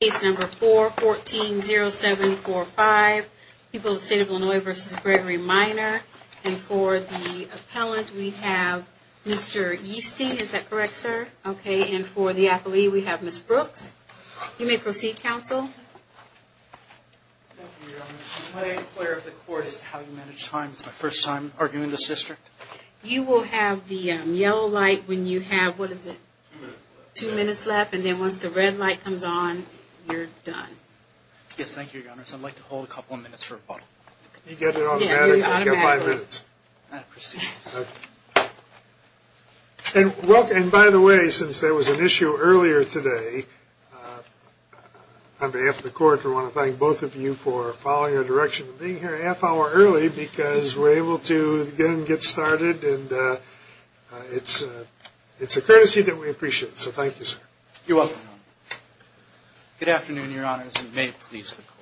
Case number 4-14-07-45. People of the State of Illinois v. Gregory Miner. And for the appellant we have Mr. Yeasty. Is that correct, sir? Okay, and for the athlete we have Ms. Brooks. You may proceed, counsel. Thank you, Your Honor. Can I inquire of the court as to how you manage time? It's my first time arguing in this district. You will have the yellow light when you have, what is it? Two minutes left. Two minutes left, and then once the red light comes on, you're done. Yes, thank you, Your Honor. So I'd like to hold a couple of minutes for rebuttal. You get it automatically. You get five minutes. I proceed. And by the way, since there was an issue earlier today, on behalf of the court, we want to thank both of you for following our direction and being here a half hour early because we're able to again get started and it's a courtesy that we appreciate. So thank you, sir. You're welcome, Your Honor. Good afternoon, Your Honors, and may it please the court.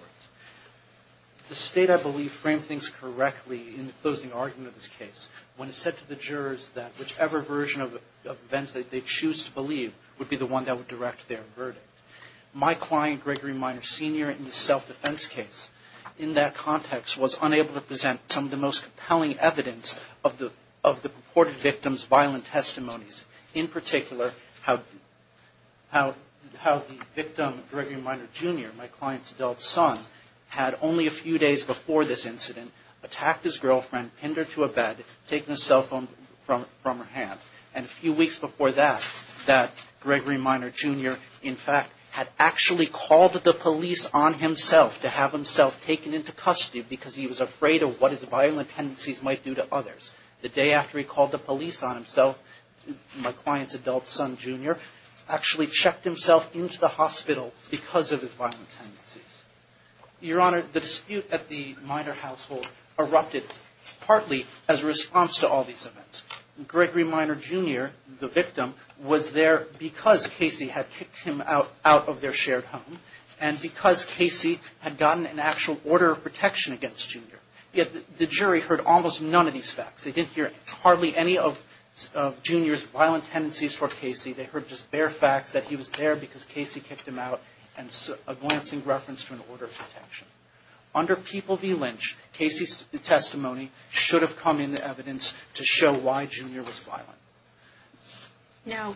The state, I believe, framed things correctly in the closing argument of this case when it said to the jurors that whichever version of events that they choose to believe would be the one that would direct their verdict. My client, Gregory Minor Sr., in the self-defense case, in that context was unable to present some of the most compelling evidence of the purported victim's violent testimonies, in particular, how the victim, Gregory Minor Jr., my client's adult son, had only a few days before this incident attacked his girlfriend, pinned her to a bed, taken his cell phone from her hand, and a few weeks before that, that Gregory Minor Jr., in fact, had actually called the police on himself to have himself taken into custody because he was afraid of what his violent tendencies might do to others. The day after he called the police on himself, my client's adult son, Jr., actually checked himself into the hospital because of his violent tendencies. Your Honor, the dispute at the Minor household erupted partly as a response to all these events. Gregory Minor Jr., the victim, was there because Casey had kicked him out of their shared home and because Casey had gotten an actual order of protection against Jr. Yet, the jury heard almost none of these facts. They didn't hear hardly any of Jr.'s violent tendencies toward Casey. They heard just bare facts that he was there because Casey kicked him out and a glancing reference to an order of protection. Under People v. Lynch, Casey's testimony should have come in evidence to show why Jr. was violent. Now,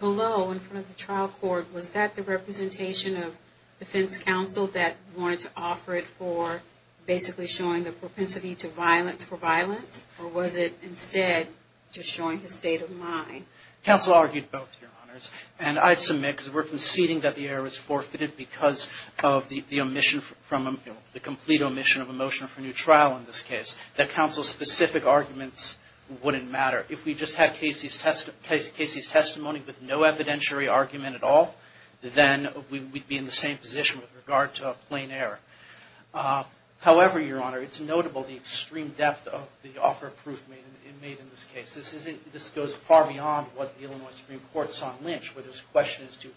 below, in front of the trial court, was that the representation of defense counsel that wanted to offer it for basically showing the propensity to violence for violence or was it instead just showing his state of mind? Counsel argued both, Your Honors. And I'd submit, because we're conceding that the error is forfeited because of the omission from, the complete omission of a motion for a new trial in this case, that counsel's specific arguments wouldn't matter. If we just had Casey's testimony with no evidentiary argument at all, then we'd be in the same position with regard to a plain error. However, Your Honor, it's notable the extreme depth of the offer of proof made in this case. This goes far beyond what the Illinois Supreme Court saw in Lynch, where this question is, do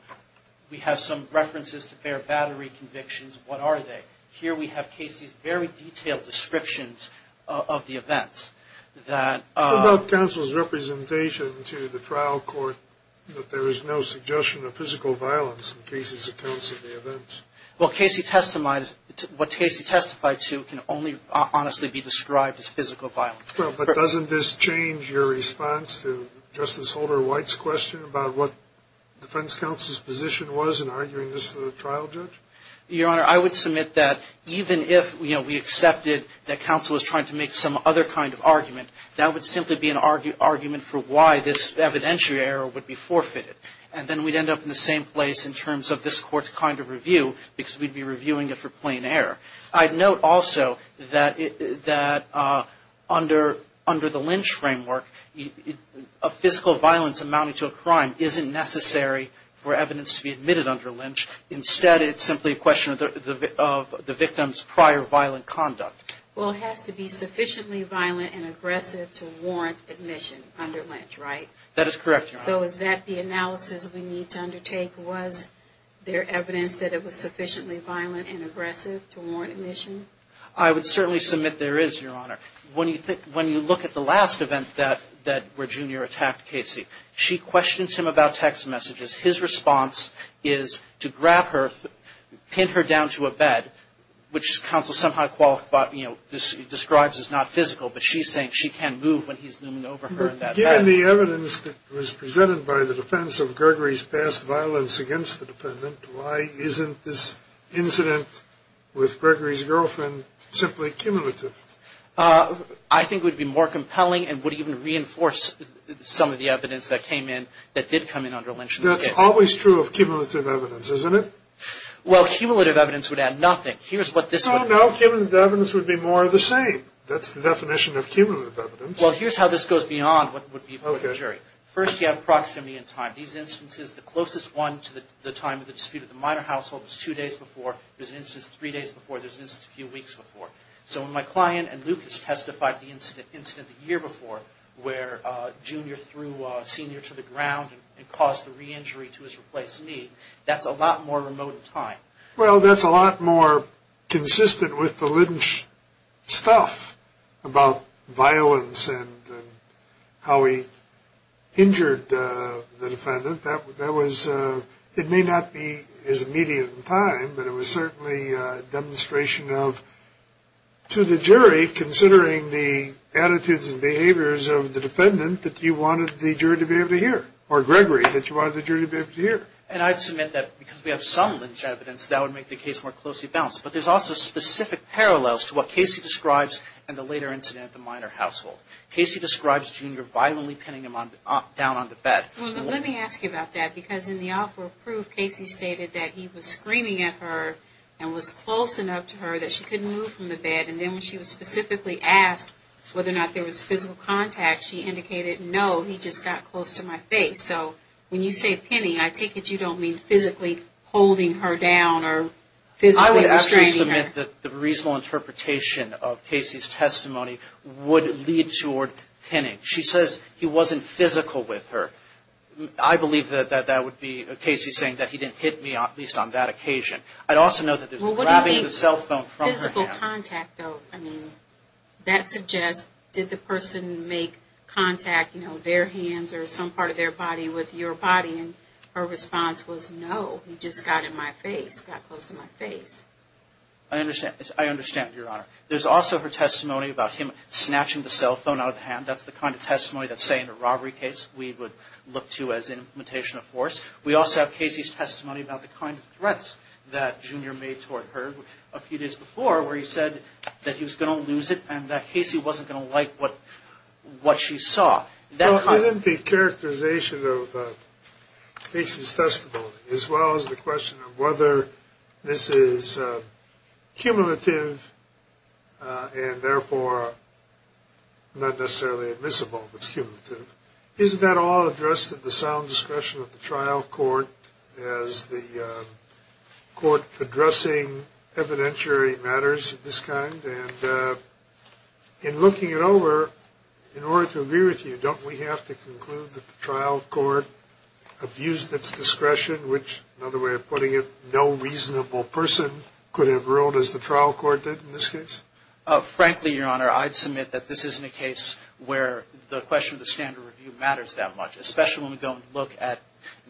we have some references to bare battery convictions? What are they? Here, we have Casey's very detailed descriptions of the events. What about counsel's representation to the trial court that there is no suggestion of physical violence in Casey's accounts of the events? Well, Casey testified, what Casey testified to can only honestly be described as physical violence. Well, but doesn't this change your response to Justice Holder White's question about what defense counsel's position was in arguing this to the trial judge? Your Honor, I would submit that even if, you know, we accepted that counsel was trying to make some other kind of argument, that would simply be an argument for why this evidentiary error would be forfeited. And then we'd end up in the same place in terms of this Court's kind of review because we'd be reviewing it for plain error. I'd note also that under the Lynch framework, a physical violence amounting to a crime isn't necessary for evidence to be admitted under Lynch. Instead, it's simply a question of the victim's prior violent conduct. Well, it has to be sufficiently violent and aggressive to warrant admission under Lynch, right? That is correct, Your Honor. So is that the analysis we need to undertake? Was there evidence that it was sufficiently violent and aggressive to warrant admission? I would certainly submit there is, Your Honor. When you look at the last event where Junior attacked Casey, she questions him about text messages. His response is to grab her, pin her down to a bed, which counsel somehow describes as not physical, but she's saying she can't move when he's looming over her in that bed. Given the evidence that was presented by the defense of Gregory's past violence against the defendant, why isn't this incident with Gregory's girlfriend simply cumulative? I think it would be more compelling and would even reinforce some of the evidence that came in that did come in under Lynch. That's always true of cumulative evidence, isn't it? Well, cumulative evidence would add nothing. Here's what this would... No, no. Cumulative evidence would be more of the same. That's the definition of cumulative evidence. Well, here's how this goes beyond what would be before the jury. First, you have proximity and time. These instances, the closest one to the time of the dispute at the minor household was two days before. There's an instance three days before. There's an instance a few weeks before. So when my client and Lucas testified the incident the year before where Junior threw Senior to the ground and caused the re-injury to his replaced knee, that's a lot more remote in time. Well, that's a lot more consistent with the Lynch stuff about violence and how he injured the defendant. That was... It may not be as immediate in time, but it was certainly a demonstration of... It was of the defendant that you wanted the jury to be able to hear, or Gregory, that you wanted the jury to be able to hear. And I'd submit that because we have some Lynch evidence, that would make the case more closely balanced. But there's also specific parallels to what Casey describes in the later incident at the minor household. Casey describes Junior violently pinning him down on the bed. Well, let me ask you about that because in the offer of proof, Casey stated that he was screaming at her and was close enough to her that she couldn't move from the bed. And then when she was specifically asked whether or not there was physical contact, she indicated, no, he just got close to my face. So when you say pinning, I take it you don't mean physically holding her down or physically restraining her. I would actually submit that the reasonable interpretation of Casey's testimony would lead toward pinning. She says he wasn't physical with her. I believe that that would be Casey saying that he didn't hit me, at least on that occasion. I'd also note that there's grabbing the cell phone from her hand. Physical contact, though, I mean, that suggests, did the person make contact, you know, their hands or some part of their body with your body? And her response was, no, he just got in my face, got close to my face. I understand. I understand, Your Honor. There's also her testimony about him snatching the cell phone out of the hand. That's the kind of testimony that, say, in a robbery case, we would look to as an implementation of force. We also have Casey's testimony about the kind of threats that Junior made toward her a few days before, where he said that he was going to lose it and that Casey wasn't going to like what she saw. Now, given the characterization of Casey's testimony, as well as the question of whether this is cumulative and therefore not necessarily admissible if it's cumulative, isn't that all addressed at the sound discretion of the trial court as the court addressing evidentiary matters of this kind? And in looking it over, in order to agree with you, don't we have to conclude that the trial court abused its discretion, which, another way of putting it, no reasonable person could have ruled as the trial court did in this case? Frankly, Your Honor, I'd submit that this isn't a case where the question of the standard review matters that much, especially when we go and look at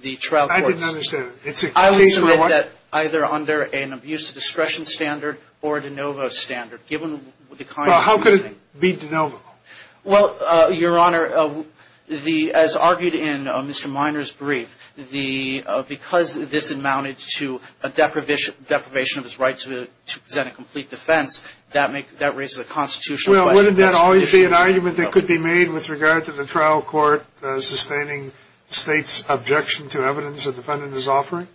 the trial courts. I didn't understand. It's a case where what? I would submit that either under an abuse of discretion standard or a de novo standard, given the kind of reasoning. Well, how could it be de novo? Well, Your Honor, as argued in Mr. Minor's brief, because this amounted to a deprivation of his right to present a complete defense, that raises a constitutional question. Well, wouldn't that always be an argument that could be made with regard to the trial court sustaining the state's objection to evidence the defendant is offering?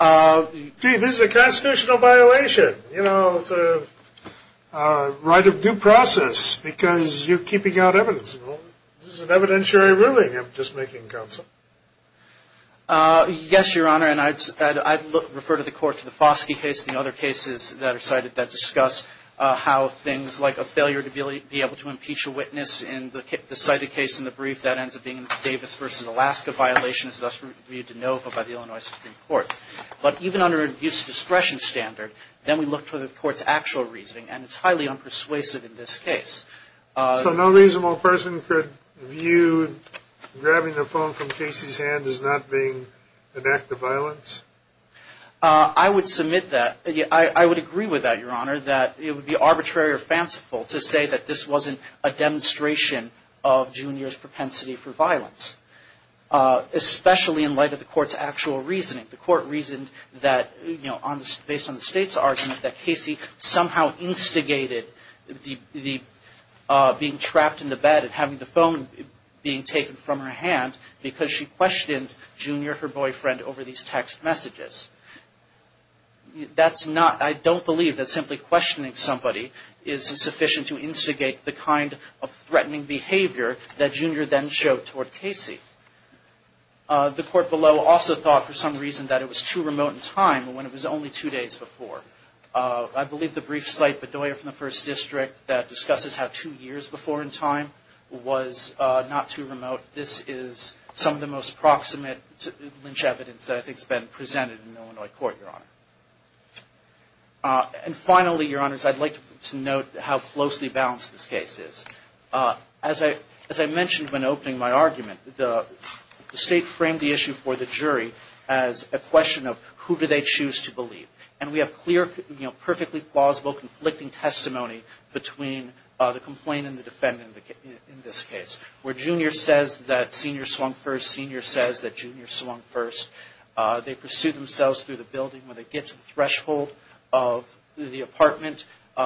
Gee, this is a constitutional violation. You know, it's a right of due process because you're keeping out evidence. This is an evidentiary ruling. I'm just making counsel. Yes, Your Honor, and I'd refer the court to the Foskey case, the other cases that are cited that discuss how things like a failure to be able to impeach a witness in the cited case in the brief, that ends up being Davis v. Alaska violations, thus reviewed de novo by the Illinois Supreme Court. But even under an abuse of discretion standard, then we look for the court's actual reasoning, and it's highly unpersuasive in this case. So no reasonable person could view grabbing the phone from Casey's hand as not being an act of violence? I would submit that, I would agree with that, Your Honor, that it would be arbitrary or fanciful to say that this wasn't a demonstration of Junior's propensity for violence, especially in light of the court's actual reasoning. The court reasoned that, you know, based on the state's argument, that Casey somehow instigated the being trapped in the bed and having the phone being taken from her hand because she questioned Junior, her boyfriend, over these text messages. That's not, I don't believe that simply questioning somebody is sufficient to instigate the kind of threatening behavior that Junior then showed toward Casey. The court below also thought for some reason that it was too remote in time when it was only two days before. I believe the brief cite Bedoya from the First District that discusses how two years before in time was not too remote. This is some of the most proximate lynch evidence that I think has been presented in Illinois court, Your Honor. And finally, Your Honors, I'd like to note how closely balanced this case is. As I mentioned when opening my argument, the state framed the issue for the jury as a question of who do they choose to believe. And we have clear, you know, perfectly plausible conflicting testimony between the complainant and the defendant in this case. Where Junior says that Senior swung first, Senior says that Junior swung first. They pursue themselves through the building. When they get to the threshold of the apartment,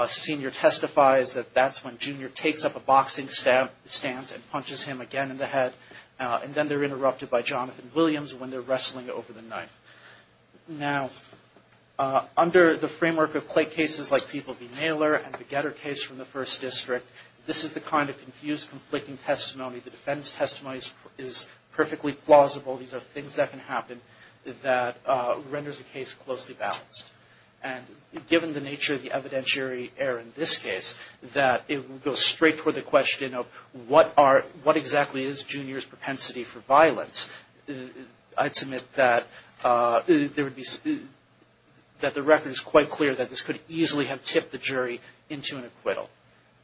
Senior testifies that that's when Junior takes up a boxing stance and punches him again in the head. And then they're interrupted by Jonathan Williams when they're wrestling over the knife. Now, under the framework of cases like People v. Naylor and the Getter case from the First District, this is the kind of confused conflicting testimony. The defense testimony is perfectly plausible. These are things that can happen that renders the case closely balanced. And given the nature of the evidentiary error in this case, that it will go straight toward the question of what exactly is Junior's propensity for violence. I'd submit that the record is quite clear that this could easily have tipped the jury into an acquittal.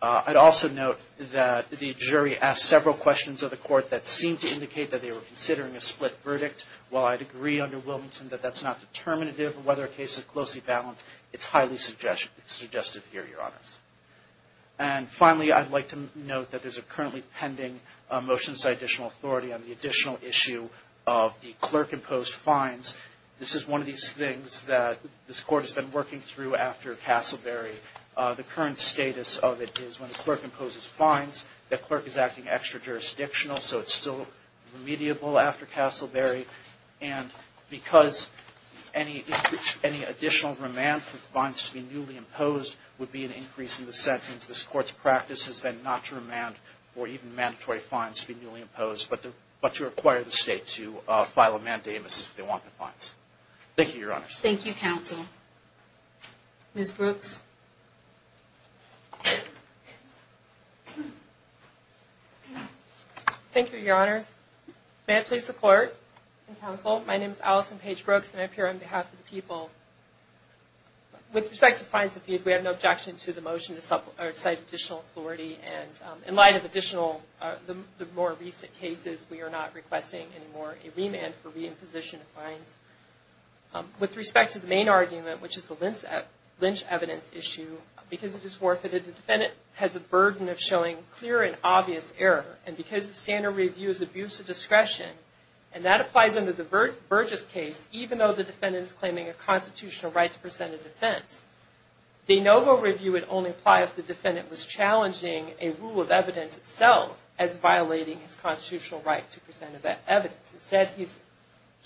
I'd also note that the jury asked several questions of the court that seemed to indicate that they were considering a split verdict. While I'd agree under Wilmington that that's not determinative, whether a case is closely balanced, it's highly suggestive here, Your Honors. And finally, I'd like to note that there's a currently pending motion to cite additional authority on the additional issue of the clerk-imposed fines. This is one of these things that this Court has been working through after Castleberry. The current status of it is when the clerk imposes fines, the clerk is acting extra-jurisdictional, so it's still remediable after Castleberry. And because any additional remand for fines to be newly imposed would be an increase in the sentence, this Court's practice has been not to remand for even mandatory fines to be newly imposed, but to require the State to file a mandamus if they want the fines. Thank you, Your Honors. Thank you, Counsel. Ms. Brooks? Thank you, Your Honors. May I please support and counsel? My name is Allison Paige Brooks, and I appear on behalf of the people. With respect to fines and fees, we have no objection to the motion to cite additional authority. And in light of additional, the more recent cases, we are not requesting anymore a remand for re-imposition of fines. With respect to the main argument, which is the lynch evidence issue, because it is forfeited, the defendant has a burden of showing clear and obvious error. And because the standard review is abuse of discretion, and that applies under the Burgess case, even though the defendant is claiming a constitutional right to present a defense, the inovo review would only apply if the defendant was challenging a rule of evidence itself as violating his constitutional right to present evidence. Instead,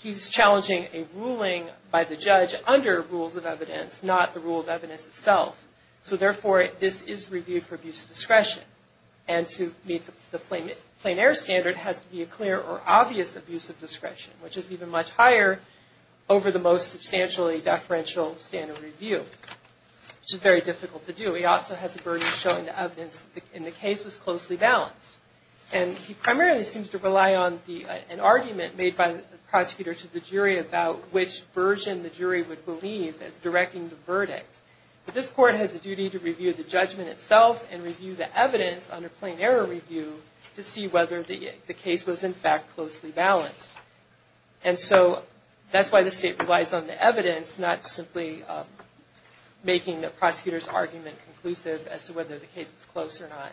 he's challenging a ruling by the judge under rules of evidence, not the rule of evidence itself. So therefore, this is reviewed for abuse of discretion. And to meet the plain error standard has to be a clear or obvious abuse of discretion, which is even much higher over the most substantially deferential standard review, which is very difficult to do. He also has a burden of showing the evidence in the case was closely balanced. And he primarily seems to rely on an argument made by the prosecutor to the jury But this court has a duty to review the judgment itself and review the evidence under plain error review to see whether the case was in fact closely balanced. And so that's why the state relies on the evidence, not simply making the prosecutor's argument conclusive as to whether the case was close or not.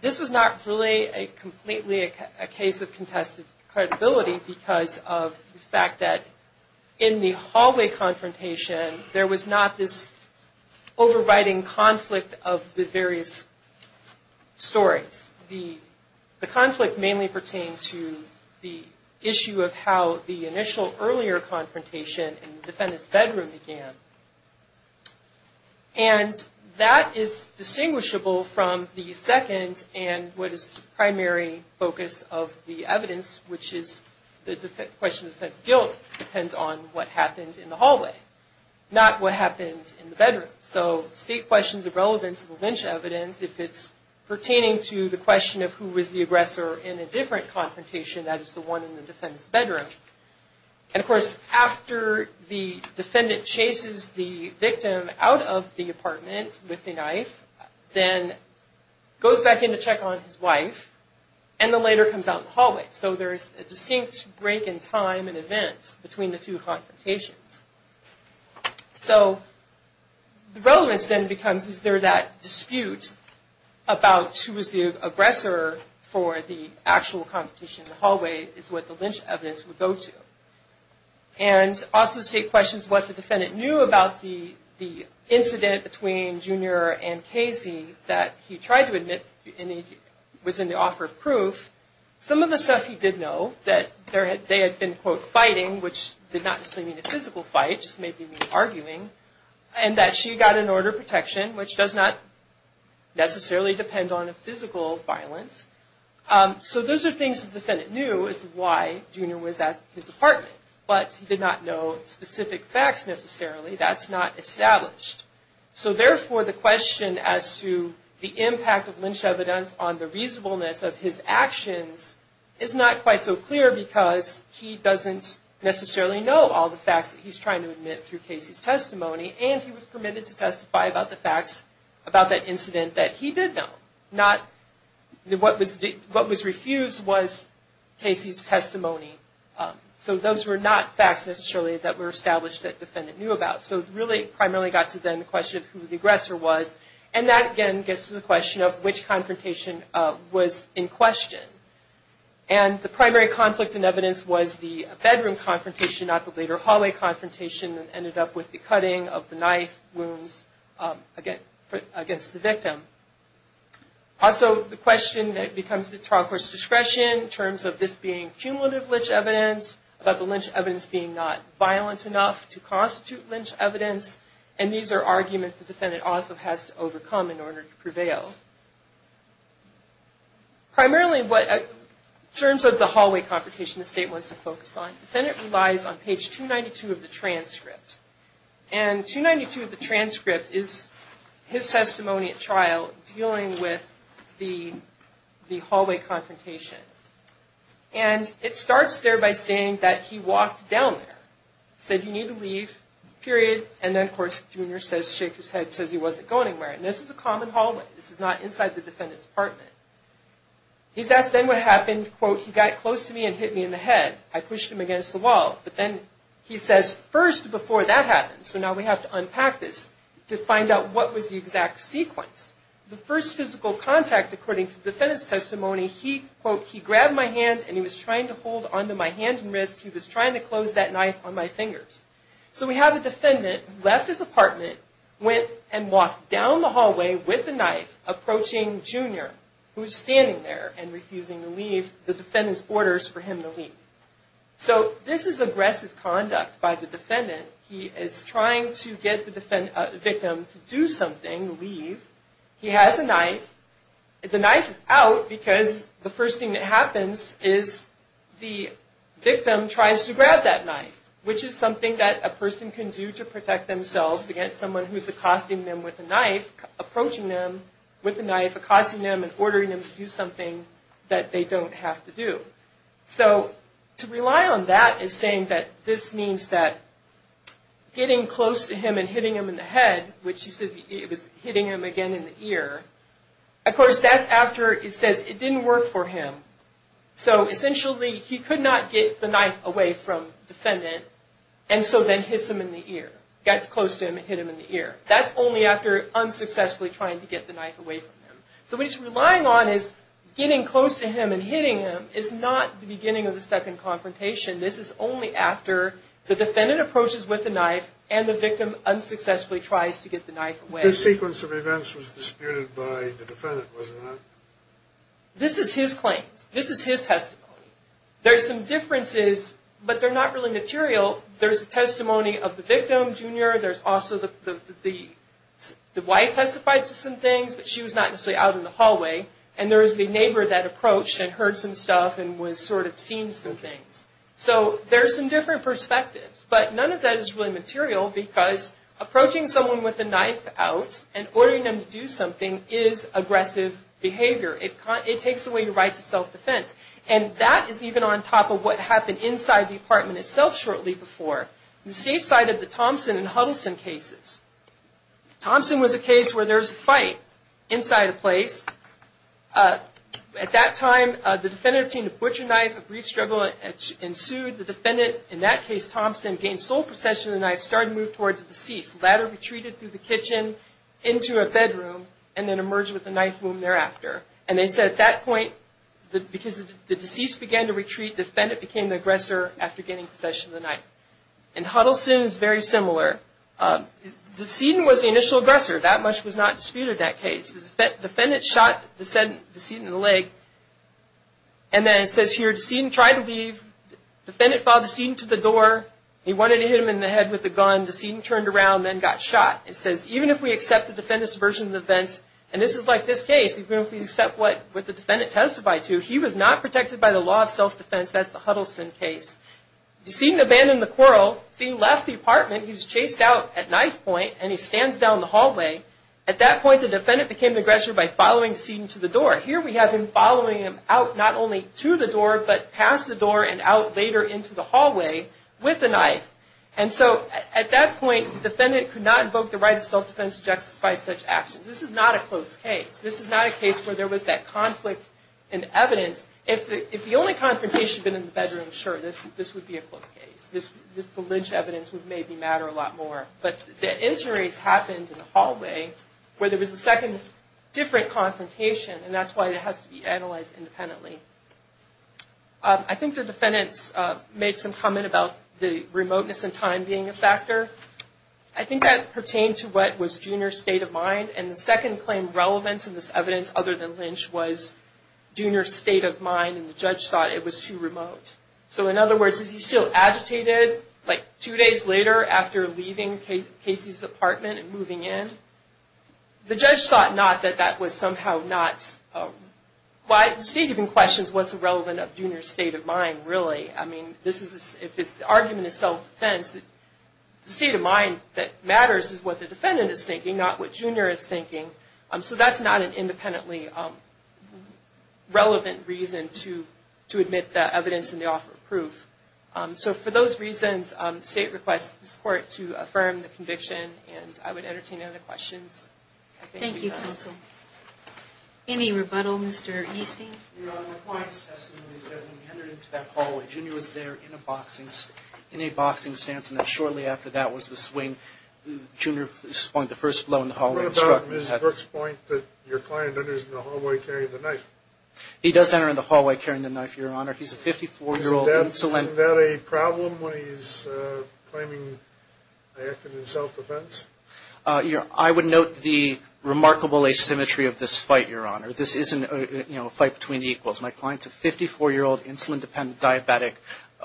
This was not really completely a case of contested credibility because of the fact that in the hallway confrontation, there was not this overriding conflict of the various stories. The conflict mainly pertained to the issue of how the initial earlier confrontation in the defendant's bedroom began. And that is distinguishable from the second and what is the primary focus of the evidence, which is the question of the defendant's guilt depends on what happened in the hallway, not what happened in the bedroom. So state questions of relevance of evidence, if it's pertaining to the question of who was the aggressor in a different confrontation, that is the one in the defendant's bedroom. And of course, after the defendant chases the victim out of the apartment with a knife, then goes back in to check on his wife and then later comes out the hallway. So there's a distinct break in time and events between the two confrontations. So the relevance then becomes is there that dispute about who was the aggressor for the actual confrontation in the hallway is what the lynch evidence would go to. And also state questions what the defendant knew about the incident between Junior and Casey that he tried to admit was in the offer of proof. Some of the stuff he did know that they had been, quote, fighting, which did not necessarily mean a physical fight, just maybe mean arguing, and that she got an order of protection, which does not necessarily depend on a physical violence. So those are things the defendant knew as to why Junior was at his apartment. But he did not know specific facts necessarily. That's not established. So therefore, the question as to the impact of lynch evidence on the reasonableness of his actions is not quite so clear because he doesn't necessarily know all the facts that he's trying to admit through Casey's testimony, and he was permitted to testify about the facts about that incident that he did know. Not what was refused was Casey's testimony. So those were not facts necessarily that were established that the defendant knew about. So it really primarily got to then the question of who the aggressor was, and that, again, gets to the question of which confrontation was in question. And the primary conflict in evidence was the bedroom confrontation, not the later hallway confrontation that ended up with the cutting of the knife wounds against the victim. Also, the question that becomes the trial court's discretion in terms of this being cumulative lynch evidence, about the lynch evidence being not violent enough to constitute lynch evidence, and these are arguments the defendant also has to overcome in order to prevail. Primarily, in terms of the hallway confrontation the state wants to focus on, the defendant relies on page 292 of the transcript. And 292 of the transcript is his testimony at trial dealing with the hallway confrontation. And it starts there by saying that he walked down there, said, you need to leave, period. And then, of course, Junior says, shake his head, says he wasn't going anywhere. And this is a common hallway. This is not inside the defendant's apartment. He's asked then what happened, quote, he got close to me and hit me in the head. I pushed him against the wall. But then he says, first, before that happens, so now we have to unpack this, to find out what was the exact sequence. The first physical contact, according to the defendant's testimony, he, quote, he grabbed my hand and he was trying to hold onto my hand and wrist. He was trying to close that knife on my fingers. So we have a defendant who left his apartment, went and walked down the hallway with a knife, approaching Junior, who's standing there and refusing to leave. The defendant's orders for him to leave. So this is aggressive conduct by the defendant. He is trying to get the victim to do something, leave. He has a knife. The knife is out because the first thing that happens is the victim tries to grab that knife, which is something that a person can do to protect themselves against someone who's accosting them with a knife, approaching them with a knife, accosting them and ordering them to do something that they don't have to do. So to rely on that is saying that this means that getting close to him and hitting him in the head, which he says it was hitting him again in the ear, of course, that's after it says it didn't work for him. So essentially, he could not get the knife away from defendant and so then hits him in the ear, gets close to him and hit him in the ear. That's only after unsuccessfully trying to get the knife away from him. So what he's relying on is getting close to him and hitting him is not the beginning of the second confrontation. This is only after the defendant approaches with the knife and the victim unsuccessfully tries to get the knife away. This sequence of events was disputed by the defendant, wasn't it? This is his claims. This is his testimony. There's some differences, but they're not really material. There's a testimony of the victim, Junior. There's also the wife testified to some things, but she was not actually out in the hallway. And there's the neighbor that approached and heard some stuff and was sort of seen some things. So there's some different perspectives, but none of that is really material because approaching someone with a knife out and ordering them to do something is aggressive behavior. It takes away your right to self-defense. And that is even on top of what happened inside the apartment itself shortly before. The state cited the Thompson and Huddleston cases. Thompson was a case where there was a fight inside a place. At that time, the defendant obtained a butcher knife, a brief struggle ensued. The defendant, in that case, Thompson, gained sole possession of the knife, started to move towards the deceased. The latter retreated through the kitchen into a bedroom and then emerged with a knife wound thereafter. And they said at that point, because the deceased began to retreat, the defendant became the aggressor after gaining possession of the knife. And Huddleston is very similar. The decedent was the initial aggressor. That much was not disputed in that case. The defendant shot the decedent in the leg. And then it says here, the decedent tried to leave. The defendant followed the decedent to the door. He wanted to hit him in the head with a gun. The decedent turned around and then got shot. It says, even if we accept the defendant's version of the offense, and this is like this case, even if we accept what the defendant testified to, he was not protected by the law of self-defense. That's the Huddleston case. The decedent abandoned the quarrel. The decedent left the apartment. He was chased out at knife point, and he stands down the hallway. At that point, the defendant became the aggressor by following the decedent to the door. Here we have him following him out, not only to the door, but past the door and out later into the hallway with the knife. And so at that point, the defendant could not invoke the right of self-defense to justify such actions. This is not a close case. This is not a case where there was that conflict in evidence. If the only confrontation had been in the bedroom, sure, this would be a close case. The lynch evidence would maybe matter a lot more. But the injuries happened in the hallway where there was a second different confrontation, and that's why it has to be analyzed independently. I think the defendants made some comment about the remoteness and time being a factor. I think that pertained to what was Junior's state of mind. And the second claimed relevance in this evidence other than Lynch was Junior's state of mind, and the judge thought it was too remote. So in other words, is he still agitated, like, two days later after leaving Casey's apartment and moving in? The judge thought not that that was somehow not... The state even questions what's relevant of Junior's state of mind, really. I mean, if the argument is self-defense, the state of mind that matters is what the defendant is thinking, not what Junior is thinking. So that's not an independently relevant reason to admit that evidence and to offer proof. So for those reasons, the state requests this Court to affirm the conviction, and I would entertain any other questions. Thank you, counsel. Any rebuttal, Mr. Easting? Your Honor, my point is testimony that when we entered into that hallway, Junior was there in a boxing stance, and then shortly after that was the swing. Junior's point, the first blow in the hallway... What about Ms. Burke's point that your client enters in the hallway carrying the knife? He does enter in the hallway carrying the knife, Your Honor. He's a 54-year-old insulin... Isn't that a problem when he's claiming I acted in self-defense? I would note the remarkable asymmetry of this fight, Your Honor. This isn't, you know, a fight between equals. My client's a 54-year-old insulin-dependent diabetic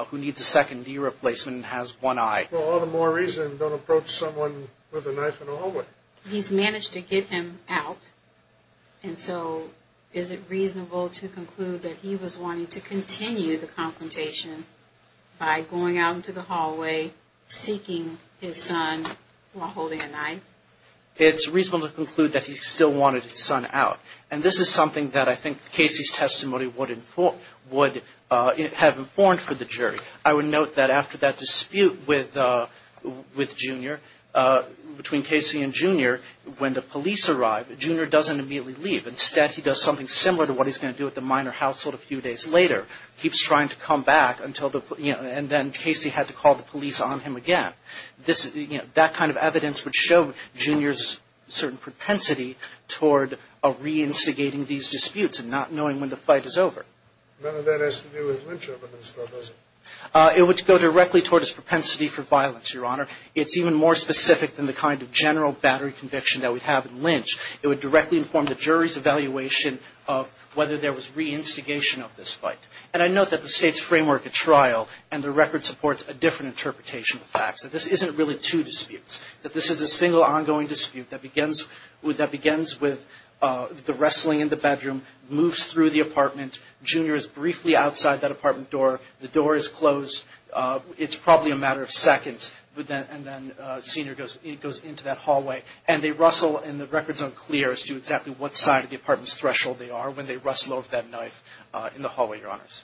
who needs a second knee replacement and has one eye. Well, all the more reason don't approach someone with a knife in a hallway. He's managed to get him out, and so is it reasonable to conclude that he was wanting to continue the confrontation by going out into the hallway seeking his son while holding a knife? It's reasonable to conclude that he still wanted his son out, and this is something that I think Casey's testimony would have informed for the jury. I would note that after that dispute with Junior, between Casey and Junior, when the police arrive, Junior doesn't immediately leave. Instead, he does something similar to what he's going to do at the minor household a few days later. Keeps trying to come back until the... You know, and then Casey had to call the police on him again. This, you know, that kind of evidence would show Junior's certain propensity toward reinstigating these disputes and not knowing when the fight is over. None of that has to do with Lynch, though, does it? It would go directly toward his propensity for violence, Your Honor. It's even more specific than the kind of general battery conviction that we have in Lynch. It would directly inform the jury's evaluation of whether there was reinstigation of this fight. And I note that the State's framework at trial and the record supports a different interpretation of facts, that this isn't really two disputes. That this is a single ongoing dispute that begins with the wrestling in the bedroom, moves through the apartment, Junior is briefly outside that apartment door, the door is closed, it's probably a matter of seconds, and then Senior goes into that hallway. And they rustle, and the record's unclear as to exactly what side of the apartment's threshold they are when they rustle over that knife in the hallway, Your Honors.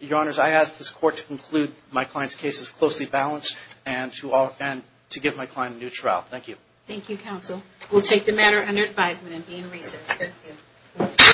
Your Honors, I ask this Court to conclude my client's case as closely balanced and to give my client a new trial. Thank you. Thank you, Counsel. We'll take the matter under advisement and be in recess. Thank you.